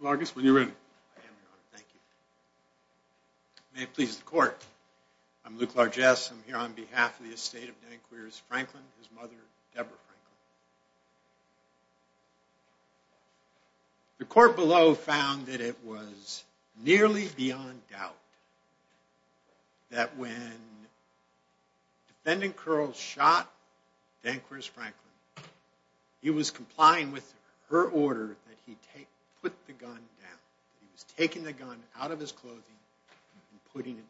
Lucas when you're in. May it please the court I'm Luke Largesse I'm here on behalf of the estate of Danqueers Franklin his mother Deborah Franklin. The court below found that it was nearly beyond doubt that when defendant Curls shot Danqueers Franklin he was complying with her order that he take put the gun down. He was taking the gun out of his clothing and putting it down.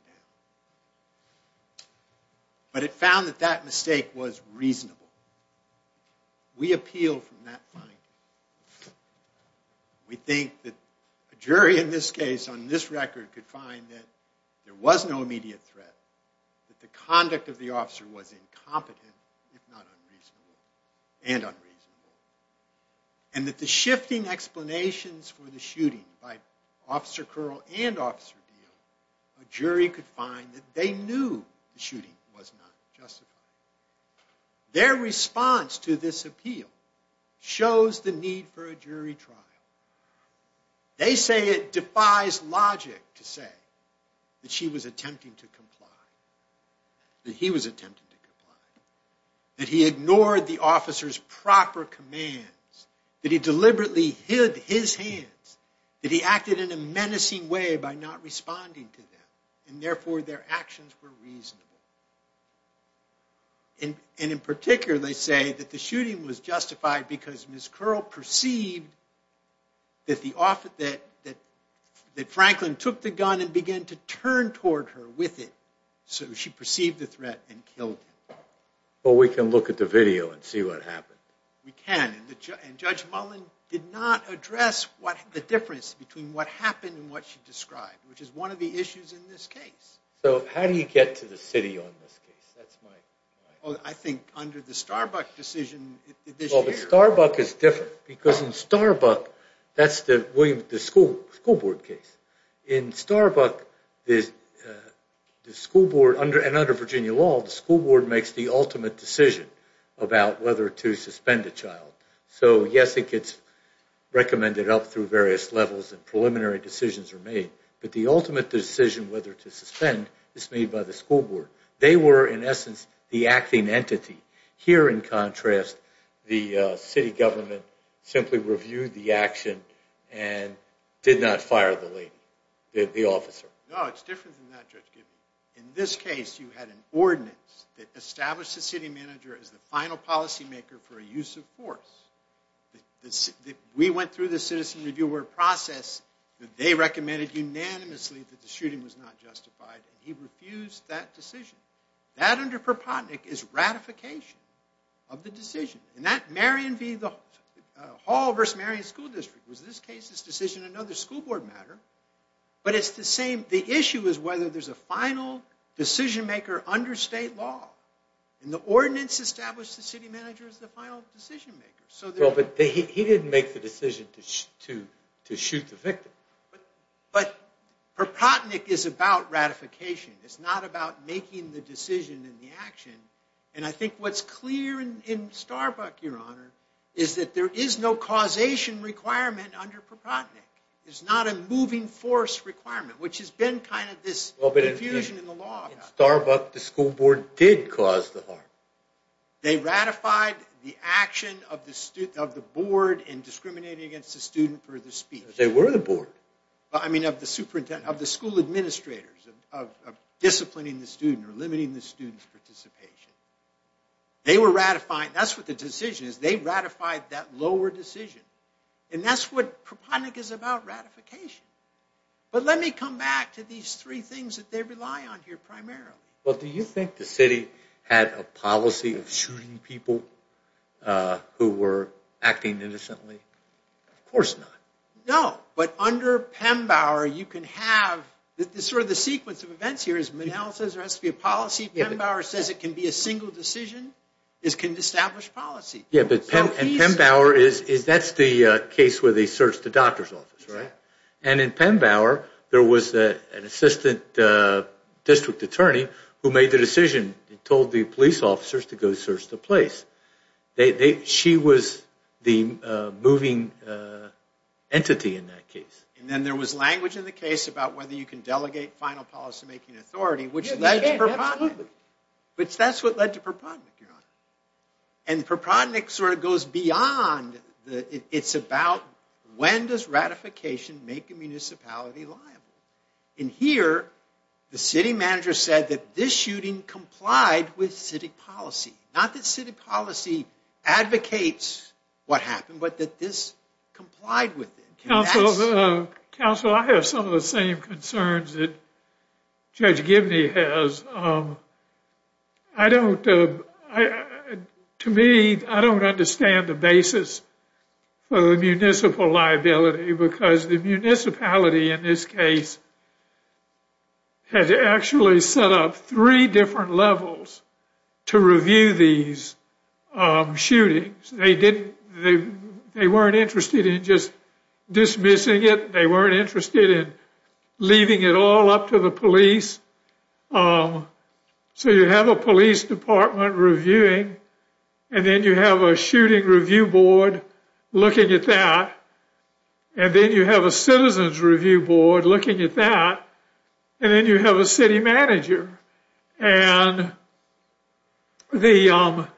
But it found that that mistake was reasonable. We appeal from that finding. We think that a jury in this case on this record could find that there was no immediate threat that the unreasonable and unreasonable. And that the shifting explanations for the shooting by Officer Curl and Officer Deal a jury could find that they knew the shooting was not justified. Their response to this appeal shows the need for a jury trial. They say it defies logic to say that she was attempting to comply. That he was ignoring the officer's proper commands. That he deliberately hid his hands. That he acted in a menacing way by not responding to them and therefore their actions were reasonable. And in particular they say that the shooting was justified because Ms. Curl perceived that Franklin took the gun and began to turn toward her with it. So she perceived the threat and killed him. Well we can look at the video and see what happened. We can and Judge Mullen did not address the difference between what happened and what she described which is one of the issues in this case. So how do you get to the city on this case? I think under the Starbuck decision. Well the Starbuck is different because in Starbuck that's the school board case. In Starbuck the school board and under Virginia law the school board makes the ultimate decision about whether to suspend a child. So yes it gets recommended up through various levels and preliminary decisions are made. But the ultimate decision whether to suspend is made by the school board. They were in essence the acting entity. Here in contrast the city government simply reviewed the action and did not fire the lady, the officer. No it's different than that Judge Gibbons. In this case you had an ordinance that established the city manager as the final policy maker for a use of force. We went through the citizen reviewer process that they recommended unanimously that the shooting was not justified and he refused that decision. That under Propotnick is ratification of the decision. And that Marion v. Hall versus Marion School District was in this case another school board matter. But the issue is whether there's a final decision maker under state law. And the ordinance established the city manager as the final decision maker. But he didn't make the decision to shoot the victim. But Propotnick is about ratification. It's not about making the decision and the is that there is no causation requirement under Propotnick. It's not a moving force requirement, which has been kind of this confusion in the law. In Starbuck the school board did cause the harm. They ratified the action of the board in discriminating against the student for the speech. They were the board. I mean of the superintendent, of the school administrators, of disciplining the student or limiting the student's participation. They were ratified that lower decision. And that's what Propotnick is about, ratification. But let me come back to these three things that they rely on here primarily. Well, do you think the city had a policy of shooting people who were acting innocently? Of course not. No. But under Pembauer you can have sort of the sequence of events here is Manal says there has to be a policy. Pembauer says it can be a single decision. It can establish policy. And Pembauer, that's the case where they searched the doctor's office, right? And in Pembauer there was an assistant district attorney who made the decision and told the police officers to go search the place. She was the moving entity in that case. And then there was language in the case about whether you can delegate final policymaking authority, which led to Propotnick. But that's what led to Propotnick, Your Honor. And Propotnick sort of goes beyond. It's about when does ratification make a municipality liable? And here the city manager said that this shooting complied with city policy. Not that city policy advocates what happened, but that this complied with it. Counsel, I have some of the same concerns that Judge Gibney has. I don't, to me, I don't understand the basis for the municipal liability because the municipality in this case has actually set up three different levels to review these shootings. They weren't interested in just dismissing it. They weren't interested in leaving it all up to the police. So you have a police department reviewing, and then you have a shooting review board looking at that, and then you have a citizen's review board looking at that, and then you have a city manager. And the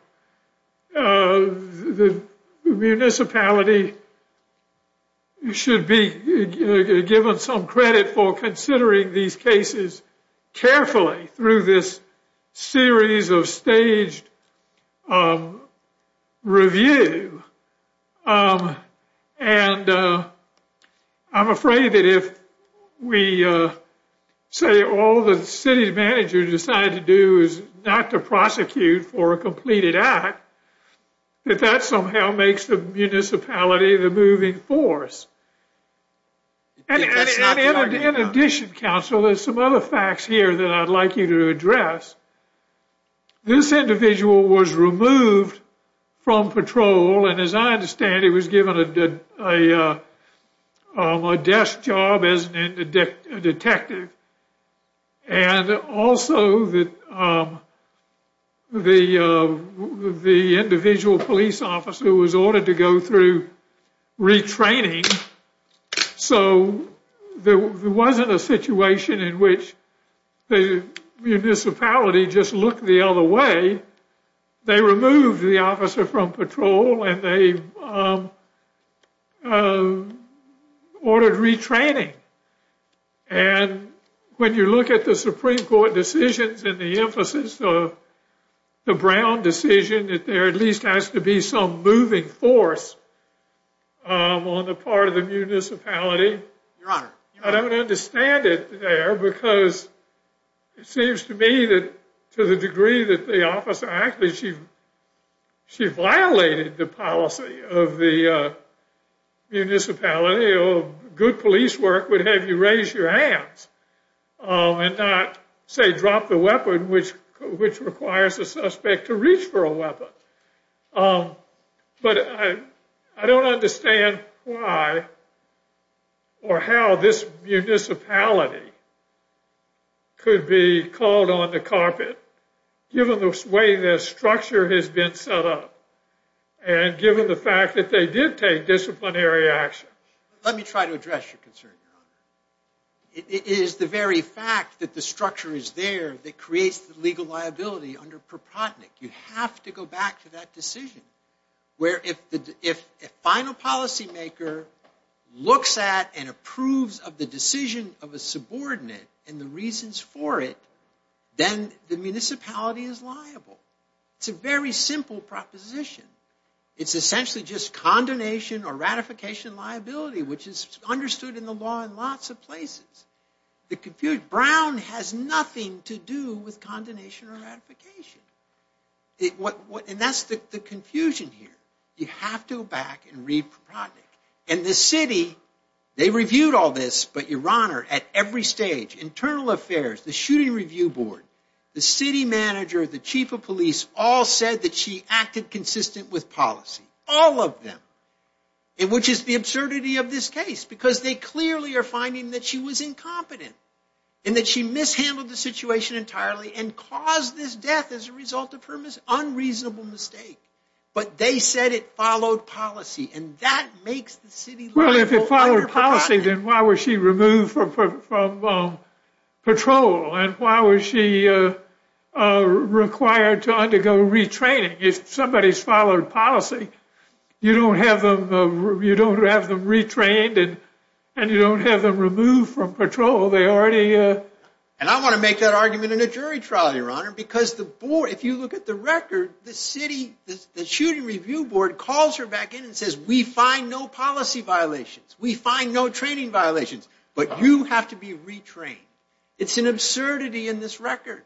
municipality should be given some credit for considering these cases carefully through this series of staged review. And I'm afraid that if we say all the city manager decided to do is not to prosecute for a completed act, that that somehow makes the municipality the moving force. And in addition, counsel, there's some other facts here that I'd like you to address. This individual was removed from patrol, and as I understand, he was given a desk job as a detective. And also, the individual police officer was ordered to go through retraining. So there wasn't a situation in which the municipality just looked the other way. They removed the officer from patrol, and they ordered retraining. And when you look at the Supreme Court decisions and the emphasis of the Brown decision that there at least has to be some moving force on the part of the municipality, I don't understand it there because it seems to me that to the degree that the officer acted, she violated the policy of the municipality. Good police work would have you raise your hands and not, say, drop the weapon, which requires the suspect to reach for a weapon. But I don't understand why or how this municipality could be called on the carpet given the way their structure has been set up and given the fact that they did take disciplinary action. Let me try to address your concern, Your Honor. It is the very fact that the structure is there that creates the legal liability under Brown. If a final policymaker looks at and approves of the decision of a subordinate and the reasons for it, then the municipality is liable. It's a very simple proposition. It's essentially just condemnation or ratification liability, which is understood in the law in lots of places. Brown has nothing to do with condemnation or ratification. And that's the confusion here. You have to go back and re-project. And the city, they reviewed all this, but, Your Honor, at every stage, internal affairs, the shooting review board, the city manager, the chief of police all said that she acted consistent with policy, all of them, which is the absurdity of this case because they clearly are finding that she was involved in this situation entirely and caused this death as a result of her unreasonable mistake. But they said it followed policy. And that makes the city liable under Brown. Well, if it followed policy, then why was she removed from patrol? And why was she required to undergo retraining? If somebody's followed policy, you don't have them retrained and you don't have them removed from patrol. And I want to make that argument in a jury trial, Your Honor, because if you look at the record, the shooting review board calls her back in and says, we find no policy violations. We find no training violations. But you have to be retrained. It's an absurdity in this record.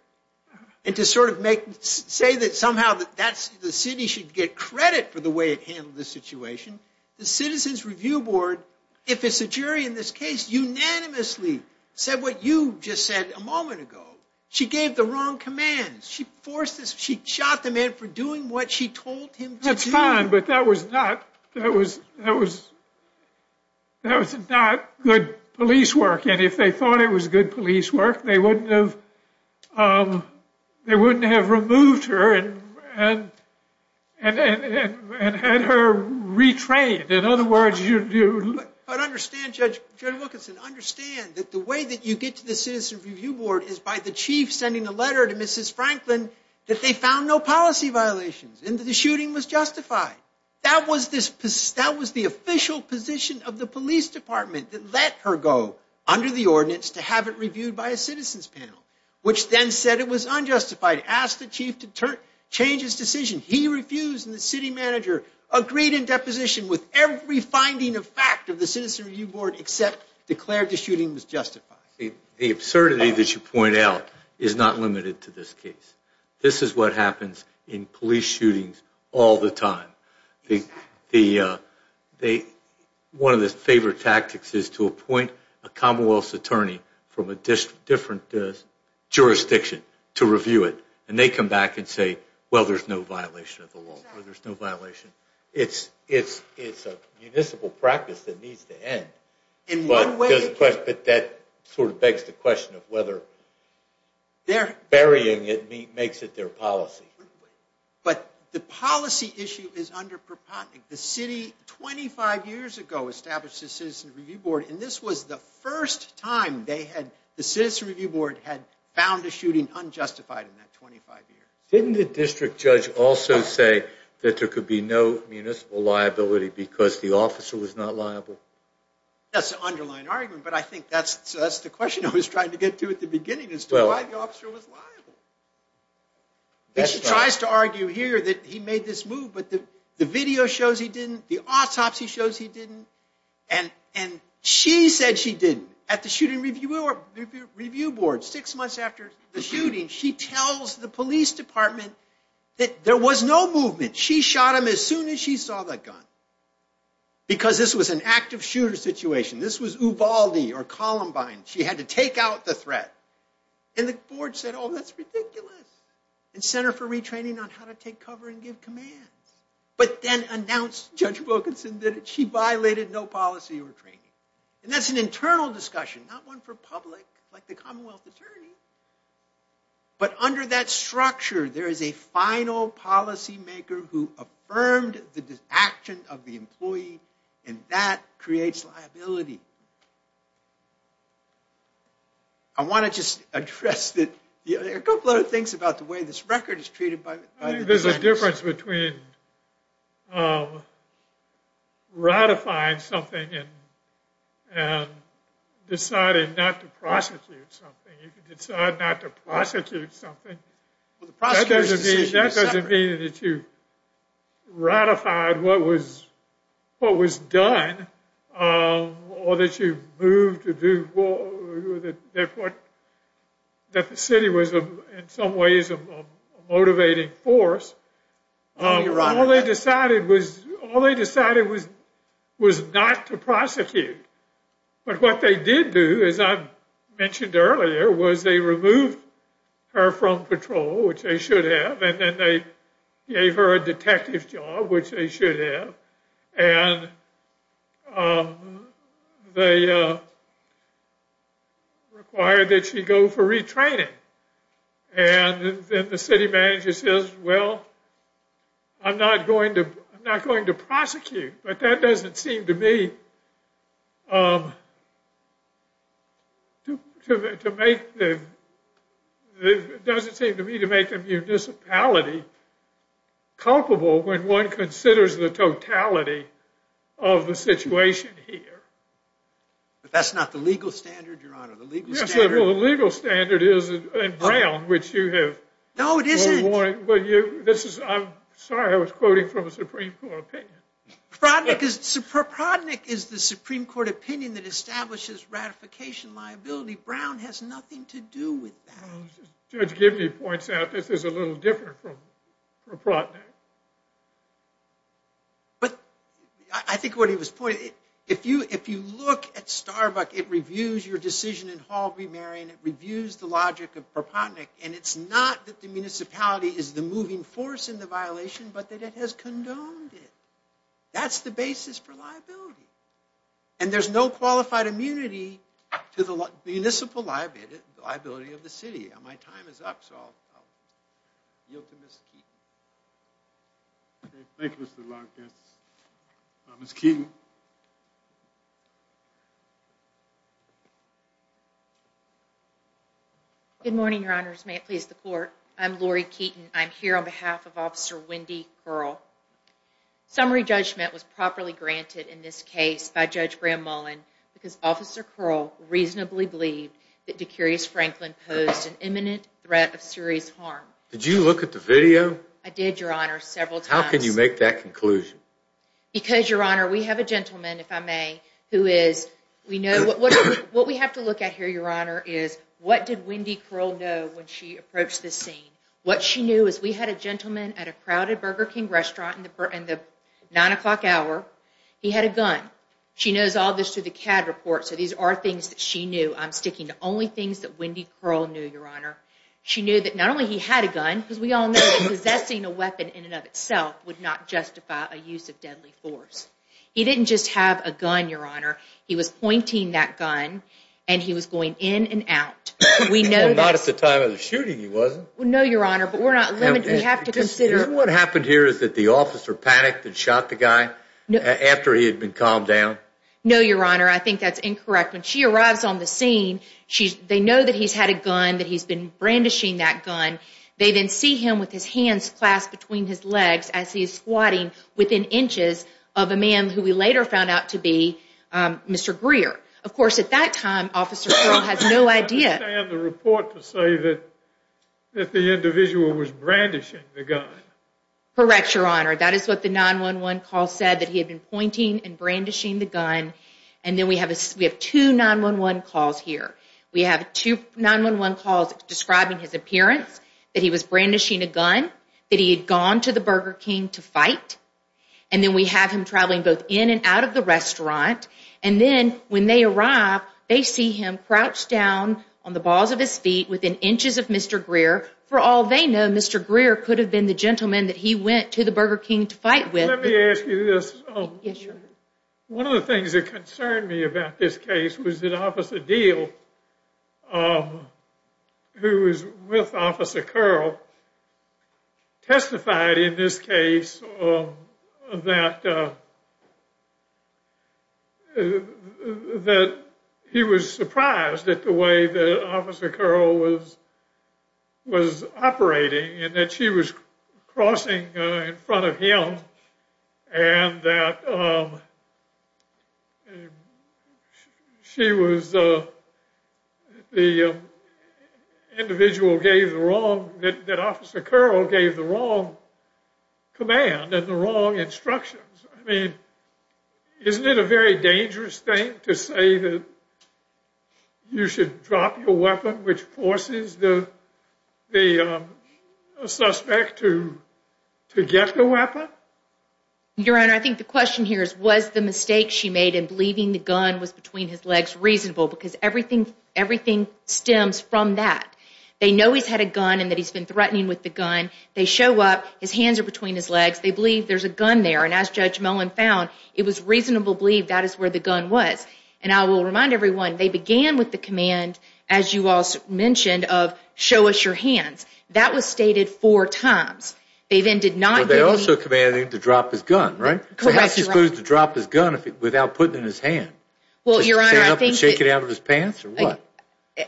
And to sort of say that somehow the city should get credit for the way it handled this situation, the you just said a moment ago. She gave the wrong commands. She shot the man for doing what she told him to do. That's fine, but that was not good police work. And if they thought it was good police work, they wouldn't have removed her and had her retrained. In other words, you do. But understand, Judge Wilkinson, understand that the way that you get to the citizen review board is by the chief sending a letter to Mrs. Franklin that they found no policy violations and that the shooting was justified. That was the official position of the police department that let her go under the ordinance to have it reviewed by a citizens panel, which then said it was unjustified. Asked the chief to change his decision. He refused. And the city manager agreed in deposition with every finding of fact of the citizen review board except declared the shooting was justified. The absurdity that you point out is not limited to this case. This is what happens in police shootings all the time. One of the favorite tactics is to appoint a Commonwealth's attorney from a different jurisdiction to review it. And they come back and say, well, there's no violation of the law. It's a municipal practice that needs to end. But that sort of begs the question of whether burying it makes it their policy. But the policy issue is under the city 25 years ago established a citizen review board. And this was the first time the citizen review board had found a citizen for 25 years. Didn't the district judge also say that there could be no municipal liability because the officer was not liable? That's an underlying argument. But I think that's the question I was trying to get to at the beginning as to why the officer was liable. She tries to argue here that he made this move. But the video shows he didn't. The autopsy shows he didn't. And she said she didn't. At the shooting review board six months after the shooting, she tells the police department that there was no movement. She shot him as soon as she saw the gun. Because this was an active shooter situation. This was Ubaldi or Columbine. She had to take out the threat. And the board said, oh, that's ridiculous. And sent her for retraining on how to take cover and give commands. But then announced Judge Wilkinson that she violated no policy or training. And that's an internal discussion, not one for public like the Commonwealth attorney. But under that structure, there is a final policymaker who affirmed the action of the employee. And that creates liability. I want to just address a couple other things about the way this record is treated by the defense. There's a difference between ratifying something and deciding not to prosecute something. You can decide not to prosecute something. That doesn't mean that you ratified what was done or that you moved to do that the city was in some ways a All they decided was not to prosecute. But what they did do, as I mentioned earlier, was they removed her from patrol, which they should have. And then they gave her a detective job, which they should have. And they required that she go for retraining. And then the city manager says, well, I'm not going to prosecute. But that doesn't seem to me to make the municipality culpable when one considers the totality of the situation here. But that's not the legal standard, Your Honor. Yes, well, the legal standard is in Brown, which you have forewarned. No, it isn't. I'm sorry, I was quoting from a Supreme Court opinion. Prodnick is the Supreme Court opinion that establishes ratification liability. Brown has nothing to do with that. Judge Gibney points out this is a little different from Prodnick. But I think what he was pointing, if you look at Starbuck, it reviews your decision in Hall v. Marion. It reviews the logic of Prodnick. And it's not that the municipality is the moving force in the violation, but that it has condoned it. That's the basis for liability. And there's no qualified immunity to the municipal liability of the city. And my time is up, so I'll yield to Ms. Keeton. Thank you, Mr. Long. Ms. Keeton. Good morning, Your Honors. May it please the Court. I'm Lori Keeton. I'm here on behalf of Officer Wendy Curl. Summary judgment was properly granted in this case by Judge Graham Mullen because Officer Curl reasonably believed that Decurious Franklin posed an imminent threat of serious harm. Did you look at the video? I did, Your Honor, several times. How can you make that conclusion? Because, Your Honor, we have a gentleman, if I may, who is... What we have to look at here, Your Honor, is what did Wendy Curl know when she approached this scene? What she knew is we had a gentleman at a crowded Burger King restaurant in the 9 o'clock hour. He had a gun. She knows all this through the CAD report, so these are things that she knew. I'm sticking to only things that Wendy Curl knew, Your Honor. She knew that not only he had a gun, because we all know that possessing a weapon in and of itself would not justify a use of deadly force. He didn't just have a gun, Your Honor. He was pointing that gun, and he was going in and out. Well, not at the time of the shooting, he wasn't. No, Your Honor, but we're not limited. We have to consider... Did the officer panic and shot the guy after he had been calmed down? No, Your Honor, I think that's incorrect. When she arrives on the scene, they know that he's had a gun, that he's been brandishing that gun. They then see him with his hands clasped between his legs as he's squatting within inches of a man who we later found out to be Mr. Greer. Of course, at that time, Officer Curl has no idea... I understand the report to say that the individual was brandishing the gun. Correct, Your Honor. That is what the 911 call said, that he had been pointing and brandishing the gun. And then we have two 911 calls here. We have two 911 calls describing his appearance, that he was brandishing a gun, that he had gone to the Burger King to fight. And then we have him traveling both in and out of the restaurant. And then when they arrive, they see him crouched down on the balls of his feet within inches of Mr. Greer. For all they know, Mr. Greer could have been the gentleman that he went to the Burger King to fight with. Let me ask you this. Yes, Your Honor. One of the things that concerned me about this case was that Officer Deal, who was with Officer Curl, testified in this case that he was surprised at the way that Officer Curl was operating and that she was crossing in front of him and that she was the individual that Officer Curl gave the wrong command and the wrong instructions. I mean, isn't it a very dangerous thing to say that you should drop your weapon which forces the suspect to get the weapon? Your Honor, I think the question here is was the mistake she made in believing the gun was between his legs reasonable because everything stems from that. They know he's had a gun and that he's been threatening with the gun. They show up, his hands are between his legs. They believe there's a gun there. And as Judge Mullen found, it was reasonable to believe that is where the gun was. And I will remind everyone, they began with the command, as you all mentioned, of show us your hands. That was stated four times. They then did not give any... But they also commanded him to drop his gun, right? Perhaps he was supposed to drop his gun without putting it in his hand. Well, Your Honor, I think... To stand up and shake it out of his pants or what?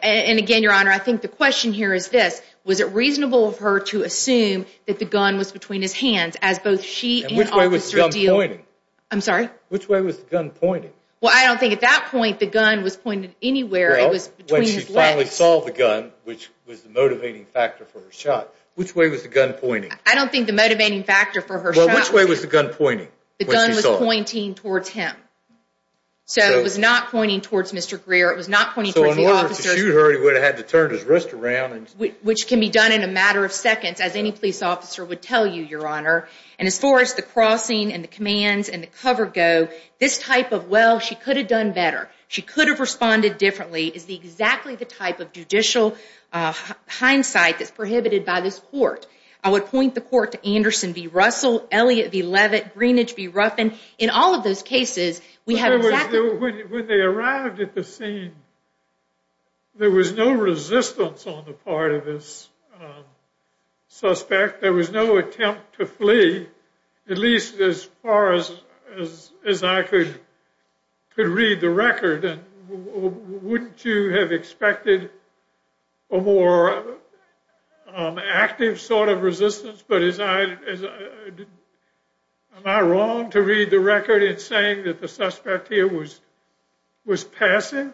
And again, Your Honor, I think the question here is this. Was it reasonable of her to assume that the gun was between his hands as both she and Officer Deal... Which way was the gun pointing? I'm sorry? Which way was the gun pointing? Well, I don't think at that point the gun was pointed anywhere. It was between his legs. Well, when she finally saw the gun, which was the motivating factor for her shot, which way was the gun pointing? I don't think the motivating factor for her shot was... Well, which way was the gun pointing? The gun was pointing towards him. So it was not pointing towards Mr. Greer. It was not pointing towards the officers. Which can be done in a matter of seconds, as any police officer would tell you, Your Honor. And as far as the crossing and the commands and the cover go, this type of, well, she could have done better, she could have responded differently, is exactly the type of judicial hindsight that's prohibited by this court. I would point the court to Anderson v. Russell, Elliott v. Levitt, Greenidge v. Ruffin. In all of those cases, we have exactly... When they arrived at the scene, there was no resistance on the part of this suspect. There was no attempt to flee, at least as far as I could read the record. And wouldn't you have expected a more active sort of resistance? But as I... Am I wrong to read the record in saying that the suspect here was passive?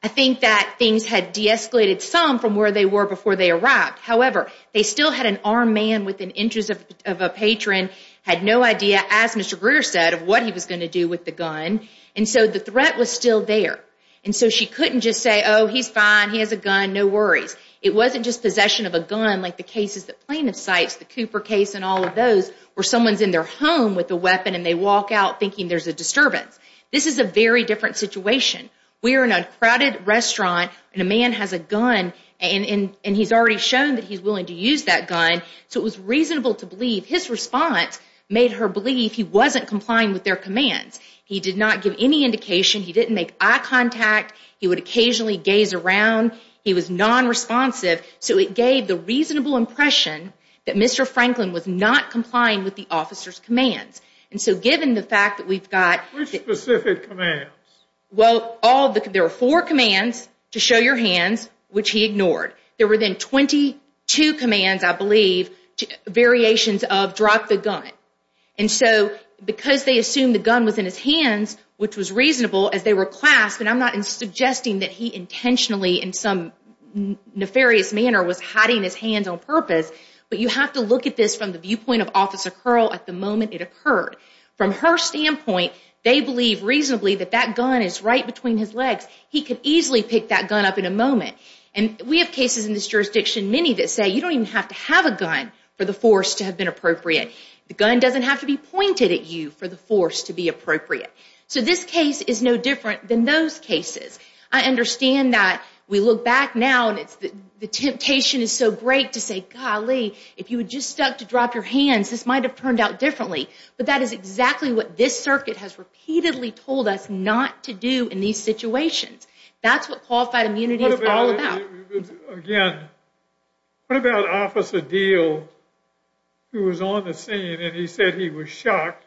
I think that things had de-escalated some from where they were before they arrived. However, they still had an armed man with an interest of a patron, had no idea, as Mr. Greer said, of what he was going to do with the gun. And so the threat was still there. And so she couldn't just say, oh, he's fine, he has a gun, no worries. It wasn't just possession of a gun, like the cases that plaintiff cites, the Cooper case and all of those, where someone's in their home with a weapon and they walk out thinking there's a disturbance. This is a very different situation. We're in a crowded restaurant and a man has a gun and he's already shown that he's willing to use that gun. So it was reasonable to believe his response made her believe he wasn't complying with their commands. He did not give any indication. He didn't make eye contact. He would occasionally gaze around. He was non-responsive. So it gave the reasonable impression that Mr. Franklin was not complying with the officer's commands. And so given the fact that we've got... Which specific commands? Well, there were four commands to show your hands, which he ignored. There were then 22 commands, I believe, variations of drop the gun. And so because they assumed the gun was in his hands, which was reasonable as they were clasped, and I'm not suggesting that he intentionally in some nefarious manner was hiding his hands on purpose, but you have to look at this from the viewpoint of Officer Curl at the moment it occurred. From her standpoint, they believe reasonably that that gun is right between his legs. He could easily pick that gun up in a moment. And we have cases in this jurisdiction, many that say you don't even have to have a gun for the force to have been appropriate. The gun doesn't have to be pointed at you for the force to be appropriate. So this case is no different than those cases. I understand that we look back now and the temptation is so great to say, golly, if you had just stuck to drop your hands, this might have turned out differently. But that is exactly what this circuit has repeatedly told us not to do in these situations. That's what qualified immunity is all about. Again, what about Officer Deal, who was on the scene and he said he was shocked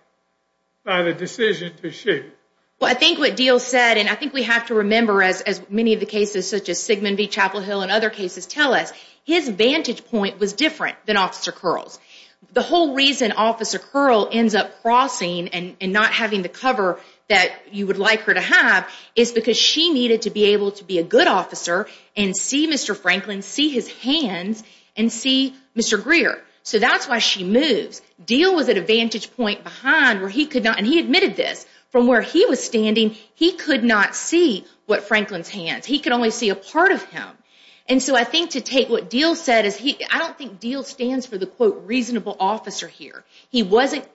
by the decision to shoot? Well, I think what Deal said, and I think we have to remember, as many of the cases such as Sigmund v. Chapel Hill and other cases tell us, his vantage point was different than Officer Curl's. The whole reason Officer Curl ends up crossing and not having the cover that you would like her to have is because she needed to be able to be a good officer and see Mr. Franklin, see his hands, and see Mr. Greer. So that's why she moves. Deal was at a vantage point behind where he could not, and he admitted this, from where he was standing, he could not see Franklin's hands. He could only see a part of him. And so I think to take what Deal said, I don't think Deal stands for the, quote, reasonable officer here. He wasn't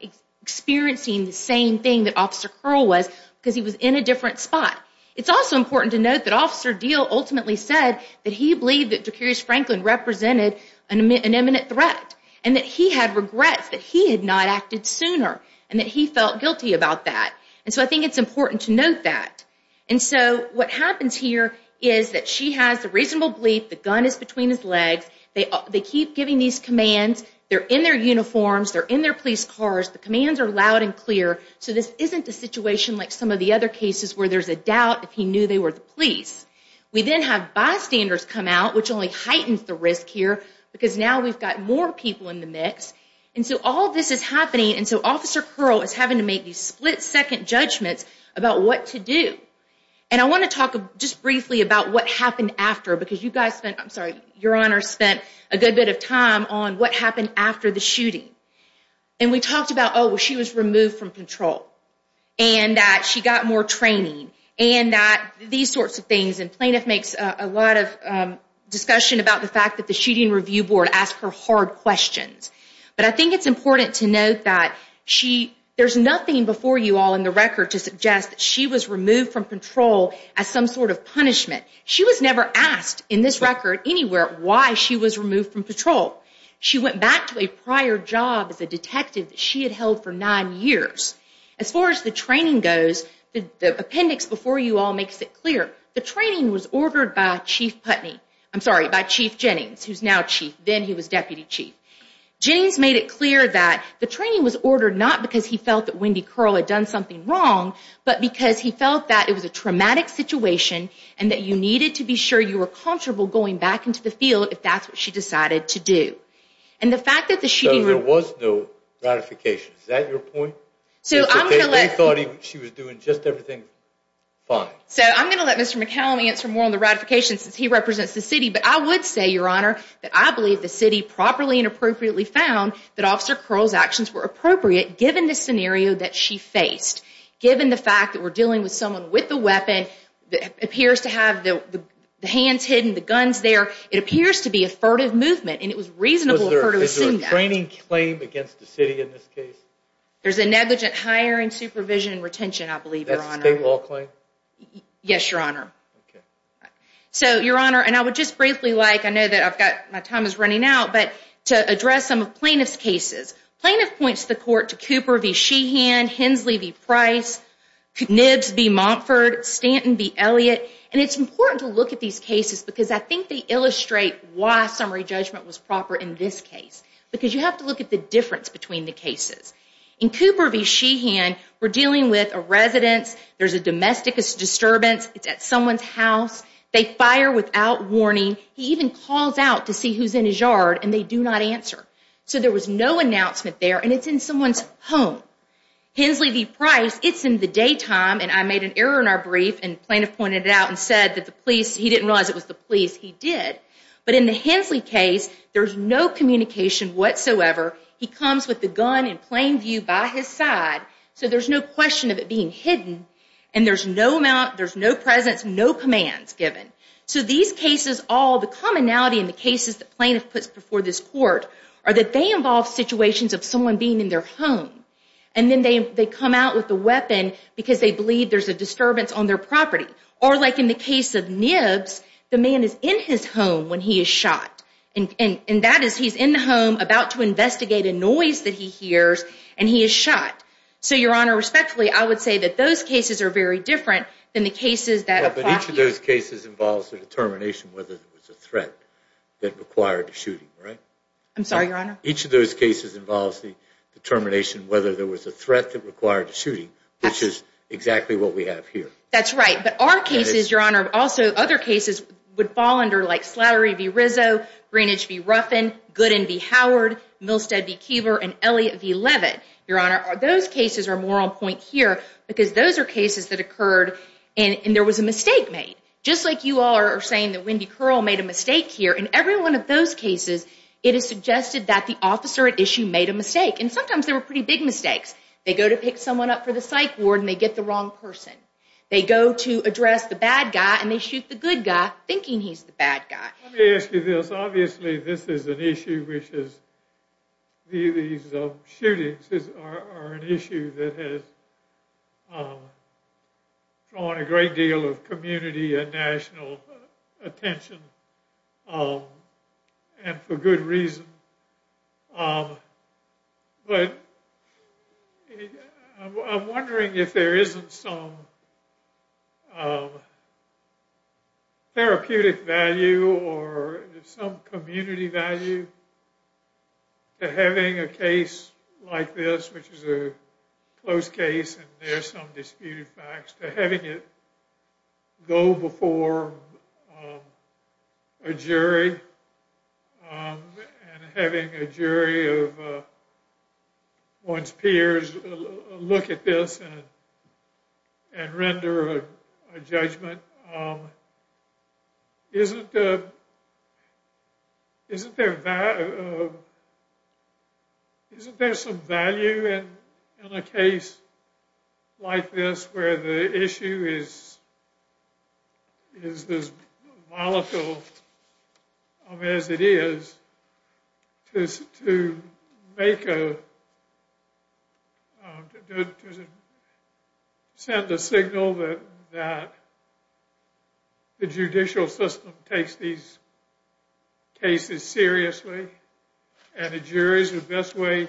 experiencing the same thing that Officer Curl was because he was in a different spot. It's also important to note that Officer Deal ultimately said that he believed that Dracarys Franklin represented an imminent threat and that he had regrets that he had not acted sooner and that he felt guilty about that. And so I think it's important to note that. And so what happens here is that she has the reasonable belief the gun is between his legs. They keep giving these commands. They're in their uniforms. They're in their police cars. The commands are loud and clear. So this isn't a situation like some of the other cases where there's a doubt if he knew they were the police. We then have bystanders come out, which only heightens the risk here because now we've got more people in the mix. And so all this is happening. And so Officer Curl is having to make these split-second judgments about what to do. And I want to talk just briefly about what happened after because you guys spent, I'm sorry, Your Honor, spent a good bit of time on what happened after the shooting. And we talked about, oh, well, she was removed from control and that she got more training and that these sorts of things. And plaintiff makes a lot of discussion about the fact that the shooting review board asked her hard questions. But I think it's important to note that there's nothing before you all in the record to suggest that she was removed from control as some sort of punishment. She was never asked in this record anywhere why she was removed from patrol. She went back to a prior job as a detective that she had held for nine years. As far as the training goes, the appendix before you all makes it clear. The training was ordered by Chief Putney. I'm sorry, by Chief Jennings, who's now chief. Then he was deputy chief. Jennings made it clear that the training was ordered not because he felt that Wendy Curl had done something wrong, but because he felt that it was a traumatic situation and that you needed to be sure you were comfortable going back into the field if that's what she decided to do. So there was no ratification. Is that your point? They thought she was doing just everything fine. So I'm going to let Mr. McCallum answer more on the ratification since he represents the city, but I would say, Your Honor, that I believe the city properly and appropriately found that Officer Curl's actions were appropriate given the scenario that she faced, given the fact that we're dealing with someone with a weapon that appears to have the hands hidden, the guns there. It appears to be a furtive movement, and it was reasonable for her to assume that. Is there a training claim against the city in this case? There's a negligent hiring, supervision, and retention, I believe, Your Honor. Yes, Your Honor. So, Your Honor, and I would just briefly like, I know that my time is running out, but to address some of Plaintiff's cases. Plaintiff points the court to Cooper v. Sheehan, Hensley v. Price, Nibbs v. Montford, Stanton v. Elliott, and it's important to look at these cases because I think they illustrate why summary judgment was proper in this case because you have to look at the difference between the cases. In Cooper v. Sheehan, we're dealing with a residence where there's a domestic disturbance. It's at someone's house. They fire without warning. He even calls out to see who's in his yard, and they do not answer. So there was no announcement there, and it's in someone's home. Hensley v. Price, it's in the daytime, and I made an error in our brief, and Plaintiff pointed it out and said that the police, he didn't realize it was the police, he did. But in the Hensley case, there's no communication whatsoever. He comes with the gun in plain view by his side, so there's no question of it being hidden, and there's no presence, no commands given. So these cases, all the commonality in the cases that Plaintiff puts before this court are that they involve situations of someone being in their home, and then they come out with the weapon because they believe there's a disturbance on their property. Or like in the case of Nibbs, the man is in his home when he is shot, and that is he's in the home about to investigate a noise that he hears, and he is shot. So, Your Honor, respectfully, I would say that those cases are very different than the cases that apply here. But each of those cases involves the determination whether there was a threat that required a shooting, right? I'm sorry, Your Honor? Each of those cases involves the determination whether there was a threat that required a shooting, which is exactly what we have here. That's right, but our cases, Your Honor, also other cases would fall under like Slattery v. Rizzo, Greenidge v. Ruffin, Gooden v. Howard, Milstead v. Keever, and Elliott v. Leavitt. Your Honor, those cases are more on point here because those are cases that occurred and there was a mistake made. Just like you all are saying that Wendy Curl made a mistake here, in every one of those cases, it is suggested that the officer at issue made a mistake, and sometimes they were pretty big mistakes. They go to pick someone up for the psych ward, and they get the wrong person. They go to address the bad guy, and they shoot the good guy thinking he's the bad guy. Let me ask you this. Obviously, this is an issue which is, these shootings are an issue that has drawn a great deal of community and national attention, and for good reason. But I'm wondering if there isn't some therapeutic value or some community value to having a case like this, which is a close case, and there are some disputed facts, to having it go before a jury, and having a jury of one's peers look at this and render a judgment. Isn't there some value in a case like this where the issue is as volatile as it is to send the signal that the judicial system takes these cases seriously, and the jury is the best way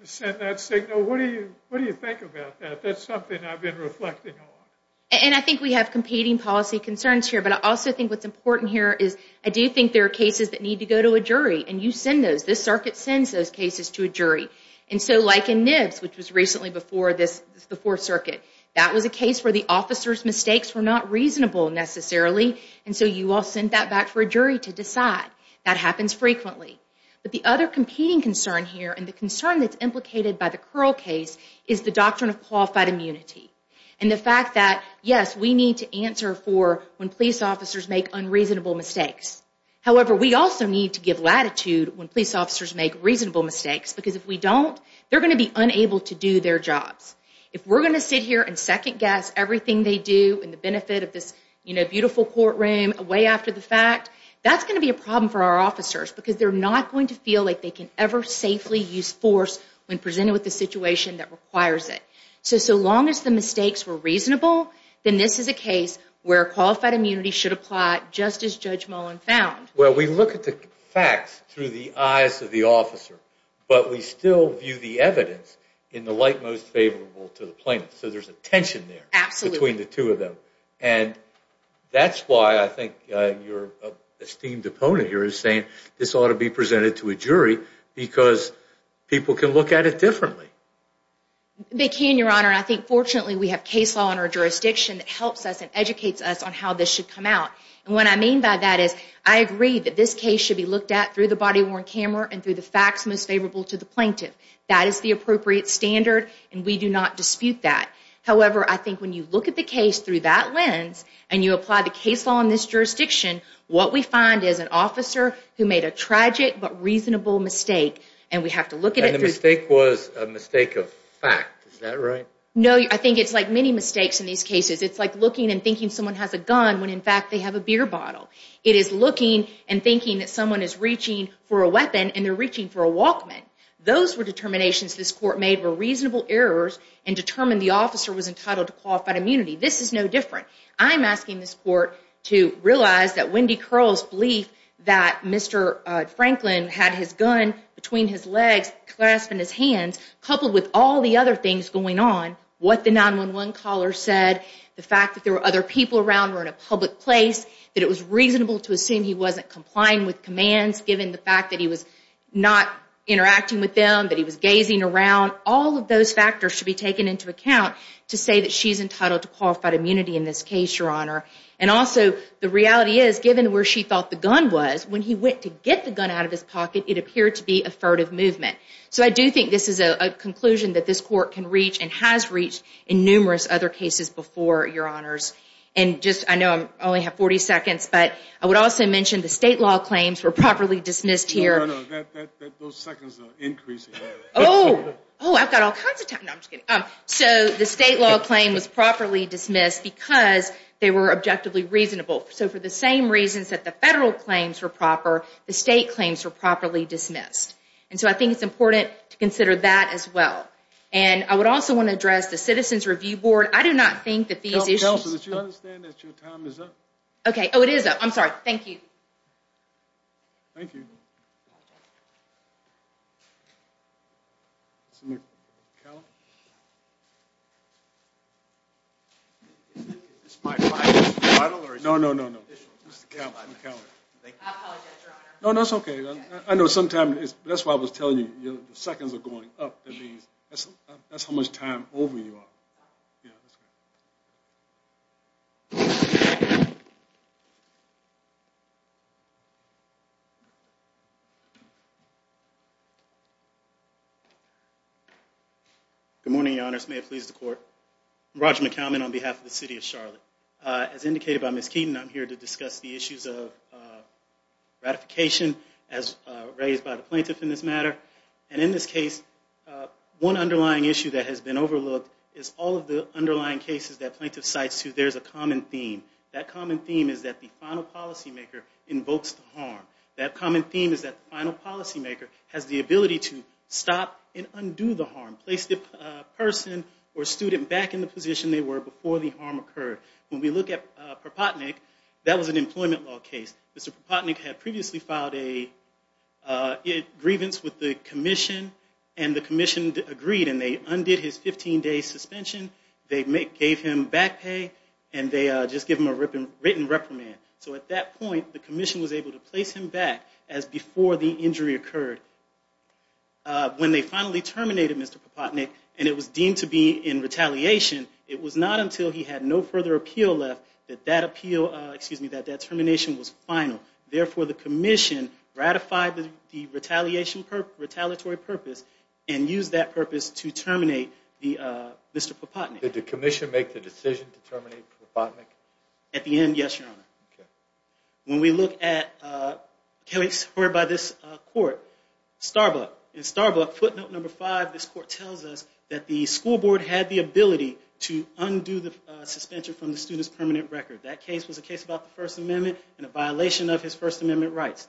to send that signal? What do you think about that? That's something I've been reflecting on. And I think we have competing policy concerns here, but I also think what's important here is I do think there are cases that need to go to a jury, and you send those. This circuit sends those cases to a jury. And so, like in Nibbs, which was recently before the Fourth Circuit, that was a case where the officer's mistakes were not reasonable, necessarily, and so you all sent that back for a jury to decide. That happens frequently. But the other competing concern here, and the concern that's implicated by the Curl case, is the doctrine of qualified immunity, and the fact that, yes, we need to answer for when police officers make unreasonable mistakes. However, we also need to give latitude when police officers make reasonable mistakes, because if we don't, they're going to be unable to do their jobs. If we're going to sit here and second-guess everything they do in the benefit of this beautiful courtroom, way after the fact, that's going to be a problem for our officers, because they're not going to feel like they can ever safely use force when presented with a situation that requires it. So, so long as the mistakes were reasonable, then this is a case where qualified immunity should apply, just as Judge Mullen found. Well, we look at the facts through the eyes of the officer, but we still view the evidence in the light most favorable to the plaintiff. So there's a tension there. Absolutely. Between the two of them. And that's why I think your esteemed opponent here is saying, this ought to be presented to a jury, because people can look at it differently. They can, Your Honor. I think, fortunately, we have case law in our jurisdiction that helps us and educates us on how this should come out. And what I mean by that is, I agree that this case should be looked at through the body-worn camera and through the facts most favorable to the plaintiff. That is the appropriate standard, and we do not dispute that. However, I think when you look at the case through that lens and you apply the case law in this jurisdiction, what we find is an officer who made a tragic but reasonable mistake, and we have to look at it through... And the mistake was a mistake of fact. Is that right? No, I think it's like many mistakes in these cases. It's like looking and thinking someone has a gun when, in fact, they have a beer bottle. It is looking and thinking that someone is reaching for a weapon and they're reaching for a Walkman. Those were determinations this court made were reasonable errors and determined the officer was entitled to qualified immunity. This is no different. I'm asking this court to realize that Wendy Curl's belief that Mr. Franklin had his gun between his legs, clasped in his hands, coupled with all the other things going on, what the 911 caller said, the fact that there were other people around or in a public place, that it was reasonable to assume he wasn't complying with commands given the fact that he was not interacting with them, that he was gazing around, all of those factors should be taken into account to say that she's entitled to qualified immunity in this case, Your Honor. And also, the reality is, given where she thought the gun was, when he went to get the gun out of his pocket, it appeared to be a furtive movement. So I do think this is a conclusion that this court can reach and has reached in numerous other cases before, Your Honors. And just, I know I only have 40 seconds, but I would also mention the state law claims were properly dismissed here. No, no, no. Those seconds are increasing. Oh! Oh, I've got all kinds of time. No, I'm just kidding. So the state law claim was properly dismissed because they were objectively reasonable. So for the same reasons that the federal claims were proper, the state claims were properly dismissed. And so I think it's important to consider that as well. And I would also want to address the Citizen's Review Board. I do not think that these issues... Counselor, did you understand that your time is up? Okay. Oh, it is up. I'm sorry. Thank you. Thank you. Is this my final? No, no, no, no. I apologize, Your Honor. No, that's okay. I know sometimes, that's why I was telling you, the seconds are going up. That's how much time over you are. Good morning, Your Honors. May it please the Court. I'm Roger McKelvin on behalf of the City of Charlotte. As indicated by Ms. Keeton, I'm here to discuss the issues of ratification as raised by the plaintiff in this matter. And in this case, one underlying issue that has been overlooked is all of the underlying cases that plaintiff cites, too. There's a common theme. That common theme is that the final policymaker invokes the harm. That common theme is that the final policymaker has the ability to stop and undo the harm, place the person or student back in the position they were before the harm occurred. When we look at Propotnick, that was an employment law case. Mr. Propotnick had previously filed a grievance with the commission, and the commission agreed, and they undid his 15-day suspension, they gave him back pay, and they just gave him a written reprimand. So at that point, the commission was able to place him back as before the injury occurred. When they finally terminated Mr. Propotnick, and it was deemed to be in retaliation, it was not until he had no further appeal left that that termination was final. Therefore, the commission ratified the retaliatory purpose and used that purpose to terminate Mr. Propotnick. Did the commission make the decision to terminate Propotnick? At the end, yes, Your Honor. When we look at a case heard by this court, Starbuck. In Starbuck, footnote number five, this court tells us that the school board had the ability to undo the suspension from the student's permanent record. That case was a case about the First Amendment and a violation of his First Amendment rights.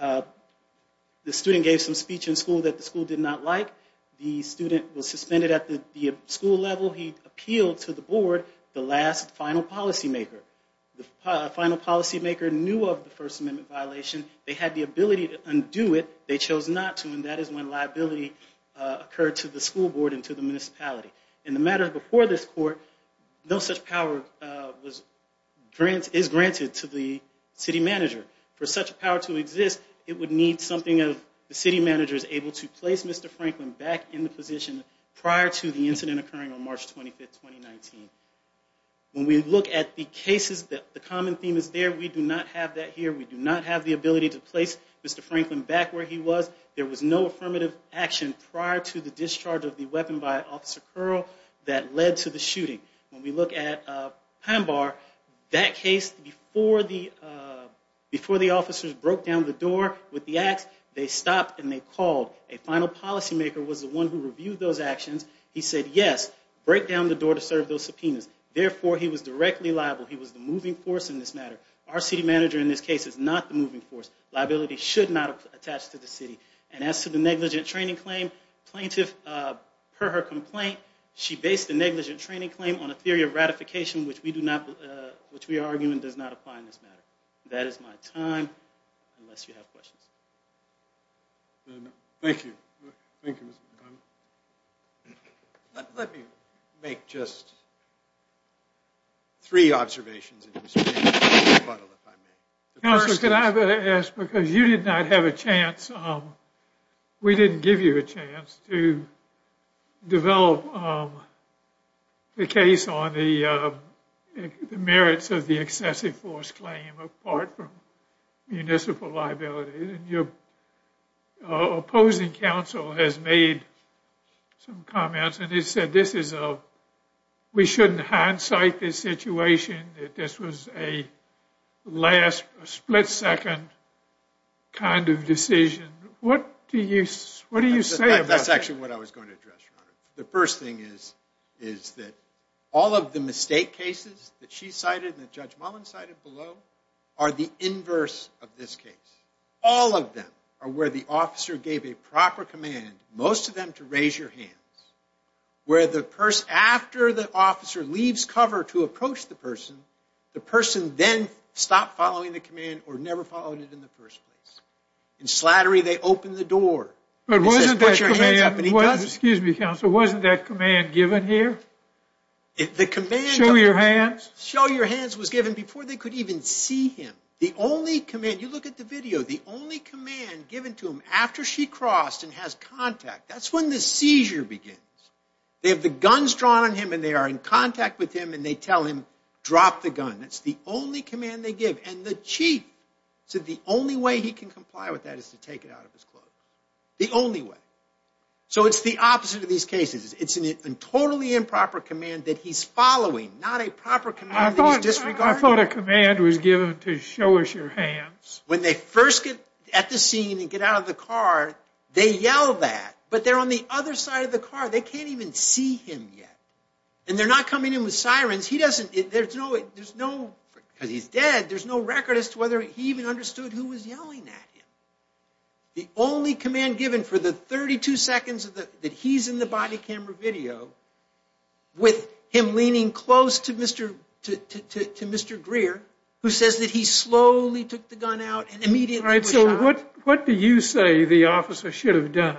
The student gave some speech in school that the school did not like. The student was suspended at the school level. He appealed to the board, the last final policymaker. The final policymaker knew of the First Amendment violation. They had the ability to undo it. They chose not to, and that is when liability occurred to the school board and to the municipality. In the matter before this court, no such power is granted to the city manager. For such a power to exist, it would need something of the city manager's able to place Mr. Franklin back in the position prior to the incident occurring on March 25, 2019. When we look at the cases, the common theme is there. We do not have that here. We do not have the ability to place Mr. Franklin back where he was. There was no affirmative action prior to the discharge of the weapon by Officer Curl that led to the shooting. When we look at Panbar, that case, before the officers broke down the door with the ax, they stopped and they called. A final policymaker was the one who reviewed those actions. He said, yes, break down the door to serve those subpoenas. Therefore, he was directly liable. He was the moving force in this matter. Our city manager in this case is not the moving force. Liability should not attach to the city. And as to the negligent training claim, plaintiff, per her complaint, she based the negligent training claim on a theory of ratification which we are arguing does not apply in this matter. That is my time, unless you have questions. Thank you. Thank you, Mr. McCoy. Let me make just three observations in exchange for a rebuttal, if I may. Counselor, could I ask, because you did not have a chance, we didn't give you a chance to develop the case on the merits of the excessive force claim apart from municipal liability. Your opposing counsel has made some comments, and he said we shouldn't hindsight this situation, that this was a last split second kind of decision. What do you say about that? That's actually what I was going to address, Your Honor. The first thing is that all of the mistake cases that she cited and that Judge Mullin cited below are the inverse of this case. All of them are where the officer gave a proper command, most of them to raise your hands. Where the person, after the officer leaves cover to approach the person, the person then stopped following the command or never followed it in the first place. In slattery, they open the door. But wasn't that command given here? Show your hands. Show your hands was given before they could even see him. The only command, you look at the video, the only command given to him after she crossed and has contact, that's when the seizure begins. They have the guns drawn on him and they are in contact with him and they tell him, drop the gun. That's the only command they give. And the chief said the only way he can comply with that is to take it out of his clothes. The only way. So it's the opposite of these cases. It's a totally improper command that he's following, not a proper command that he's disregarding. I thought a command was given to show us your hands. When they first get at the scene and get out of the car, they yell that, but they're on the other side of the car. They can't even see him yet. And they're not coming in with sirens. He doesn't, there's no, because he's dead, there's no record as to whether he even understood who was yelling at him. The only command given for the 32 seconds that he's in the body camera video with him leaning close to Mr. Greer, who says that he slowly took the gun out and immediately pushed out. All right, so what do you say the officer should have done?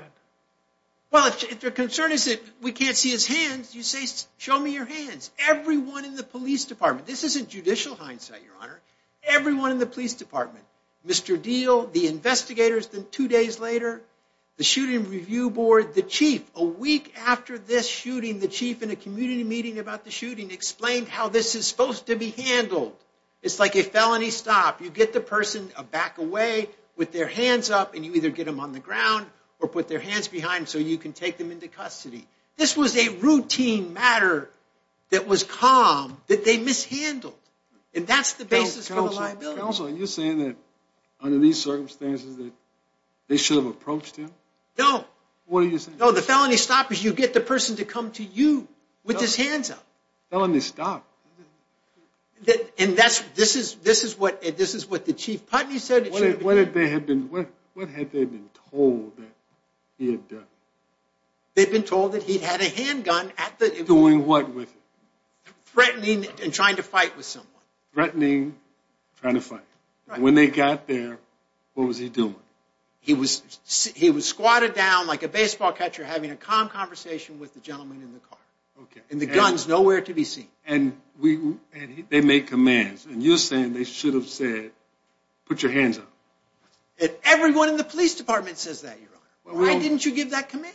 Well, if their concern is that we can't see his hands, you say, show me your hands. Everyone in the police department, this isn't judicial hindsight, Your Honor, everyone in the police department, Mr. Deal, the investigators, then two days later, the shooting review board, the chief, a week after this shooting, the chief in a community meeting about the shooting explained how this is supposed to be handled. It's like a felony stop. You get the person back away with their hands up, and you either get them on the ground or put their hands behind so you can take them into custody. This was a routine matter that was calm that they mishandled, and that's the basis for the liability. Counsel, are you saying that under these circumstances that they should have approached him? No. What are you saying? No, the felony stop is you get the person to come to you with his hands up. Felony stop. And this is what the chief Putney said. What had they been told that he had done? They had been told that he had a handgun at the... Doing what with it? Threatening and trying to fight with someone. Threatening, trying to fight. When they got there, what was he doing? He was squatted down like a baseball catcher having a calm conversation with the gentleman in the car. And the gun's nowhere to be seen. And they make commands, and you're saying they should have said, put your hands up. Everyone in the police department says that, Your Honor. Why didn't you give that command?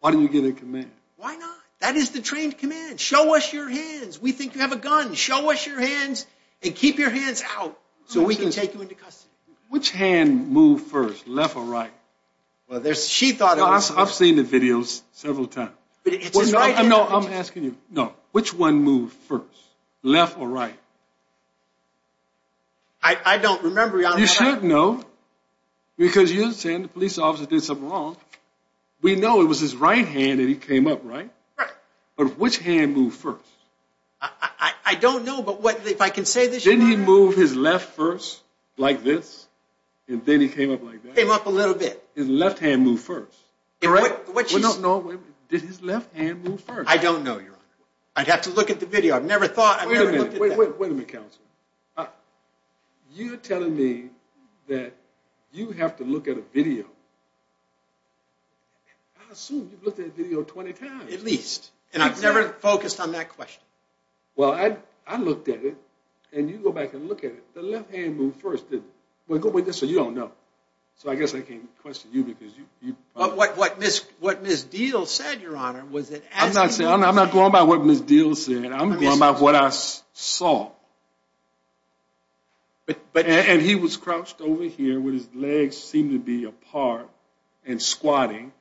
Why didn't you give that command? Why not? That is the trained command. Show us your hands. We think you have a gun. Show us your hands and keep your hands out so we can take you into custody. Which hand moved first, left or right? She thought it was... I've seen the videos several times. No, I'm asking you. Which one moved first, left or right? I don't remember, Your Honor. You should know, because you're saying the police officer did something wrong. We know it was his right hand and he came up, right? Right. But which hand moved first? I don't know, but if I can say this... Didn't he move his left first, like this, and then he came up like that? He came up a little bit. His left hand moved first, correct? Which is... No, wait a minute. Did his left hand move first? I don't know, Your Honor. I'd have to look at the video. I've never thought... Wait a minute. Wait a minute, counsel. You're telling me that you have to look at a video. I assume you've looked at a video 20 times. At least. And I've never focused on that question. Well, I looked at it, and you go back and look at it. The left hand moved first, didn't it? Well, go with this so you don't know. So I guess I can't question you because you... What Ms. Deal said, Your Honor, was that... I'm not going by what Ms. Deal said. I'm going by what I saw. And he was crouched over here with his legs seeming to be apart and squatting,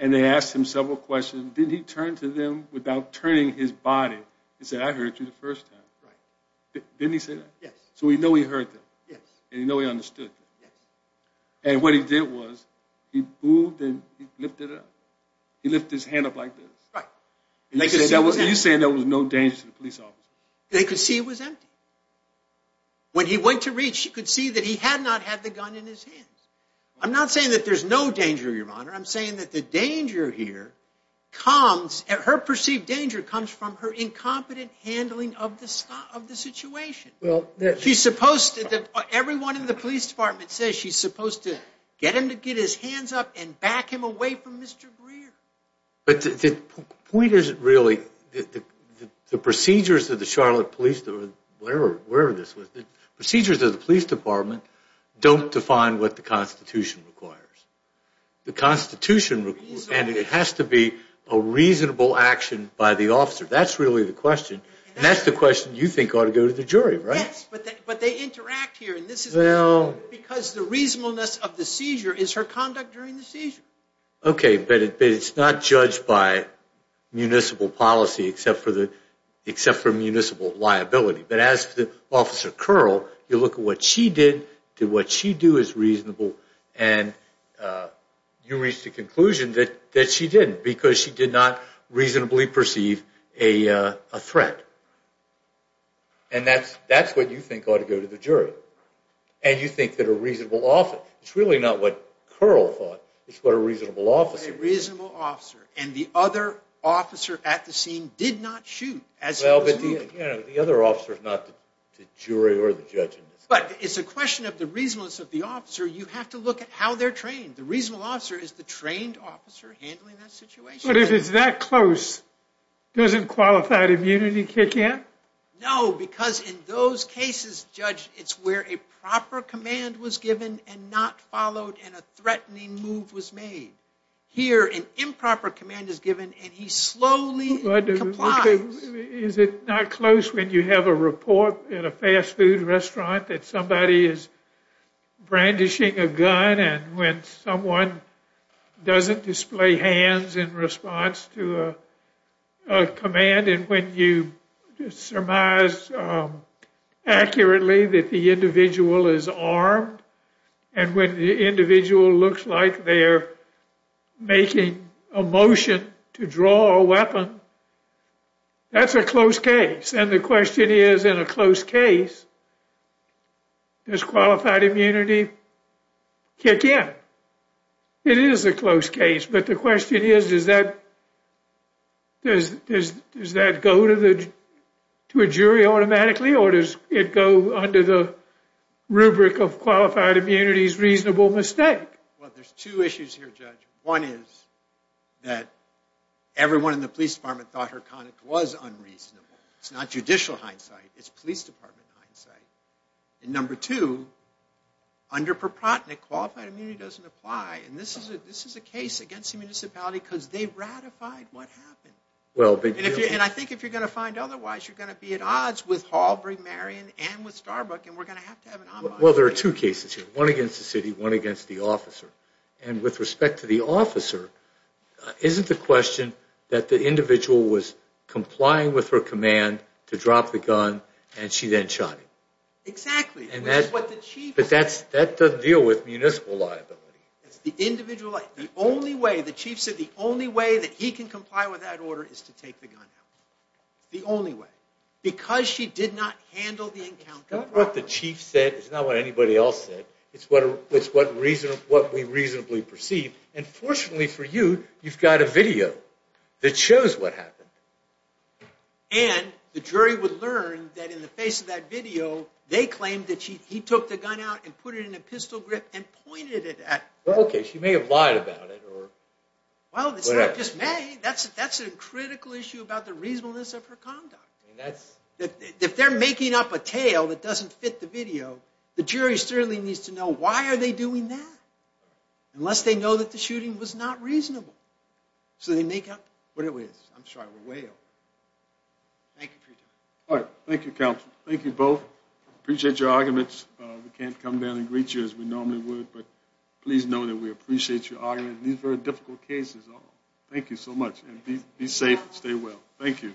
and they asked him several questions. Didn't he turn to them without turning his body and say, I hurt you the first time? Right. Didn't he say that? Yes. So we know he hurt them. Yes. And we know he understood them. Yes. And what he did was he moved and he lifted up. He lifted his hand up like this. Right. And you're saying there was no danger to the police officer? They could see it was empty. When he went to reach, you could see that he had not had the gun in his hands. I'm not saying that there's no danger, Your Honor. I'm saying that the danger here comes, her perceived danger comes from her incompetent handling of the situation. She's supposed to, everyone in the police department says she's supposed to get him to get his hands up and back him away from Mr. Greer. But the point is, really, the procedures of the Charlotte Police, wherever this was, the procedures of the police department don't define what the Constitution requires. The Constitution requires, and it has to be a reasonable action by the officer. That's really the question. And that's the question you think ought to go to the jury, right? Yes, but they interact here. And this is because the reasonableness of the seizure is her conduct during the seizure. Okay, but it's not judged by municipal policy except for municipal liability. But as for Officer Curl, you look at what she did, did what she do is reasonable, and you reach the conclusion that she didn't because she did not reasonably perceive a threat. And that's what you think ought to go to the jury. And you think that a reasonable officer, it's really not what Curl thought, it's what a reasonable officer did. A reasonable officer. And the other officer at the scene did not shoot as he was moving. Well, but the other officer is not the jury or the judge in this case. But it's a question of the reasonableness of the officer. You have to look at how they're trained. The reasonable officer is the trained officer handling that situation. But if it's that close, doesn't qualified immunity kick in? No, because in those cases, Judge, it's where a proper command was given and not followed and a threatening move was made. Here, an improper command is given and he slowly complies. Is it not close when you have a report in a fast food restaurant that somebody is brandishing a gun and when someone doesn't display hands in response to a command and when you surmise accurately that the individual is armed and when the individual looks like they're making a motion to draw a weapon? That's a close case. And the question is, in a close case, does qualified immunity kick in? It is a close case. But the question is, does that go to a jury automatically or does it go under the rubric of qualified immunity's reasonable mistake? Well, there's two issues here, Judge. One is that everyone in the police department thought Harkonnock was unreasonable. It's not judicial hindsight. It's police department hindsight. And number two, under Perprotnick, qualified immunity doesn't apply. And this is a case against the municipality because they ratified what happened. And I think if you're going to find otherwise, you're going to be at odds with Hall, Brink-Marion and with Starbuck and we're going to have to have an ombudsman. Well, there are two cases here, one against the city, one against the officer. And with respect to the officer, isn't the question that the individual was complying with her command to drop the gun and she then shot him? Exactly. But that doesn't deal with municipal liability. The only way, the chief said the only way that he can comply with that order is to take the gun out. The only way. Because she did not handle the encounter properly. It's not what the chief said. It's not what anybody else said. It's what we reasonably perceive. And fortunately for you, you've got a video that shows what happened. And the jury would learn that in the face of that video, they claimed that he took the gun out and put it in a pistol grip and pointed it at her. Okay, she may have lied about it or whatever. Well, it's not just may. That's a critical issue about the reasonableness of her conduct. If they're making up a tale that doesn't fit the video, the jury certainly needs to know why are they doing that, unless they know that the shooting was not reasonable. So they make up what it is. I'm sorry, we're way over. Thank you for your time. All right. Thank you, counsel. Thank you both. Appreciate your arguments. We can't come down and greet you as we normally would, but please know that we appreciate your argument in these very difficult cases. Thank you so much. Be safe. Stay well. Thank you.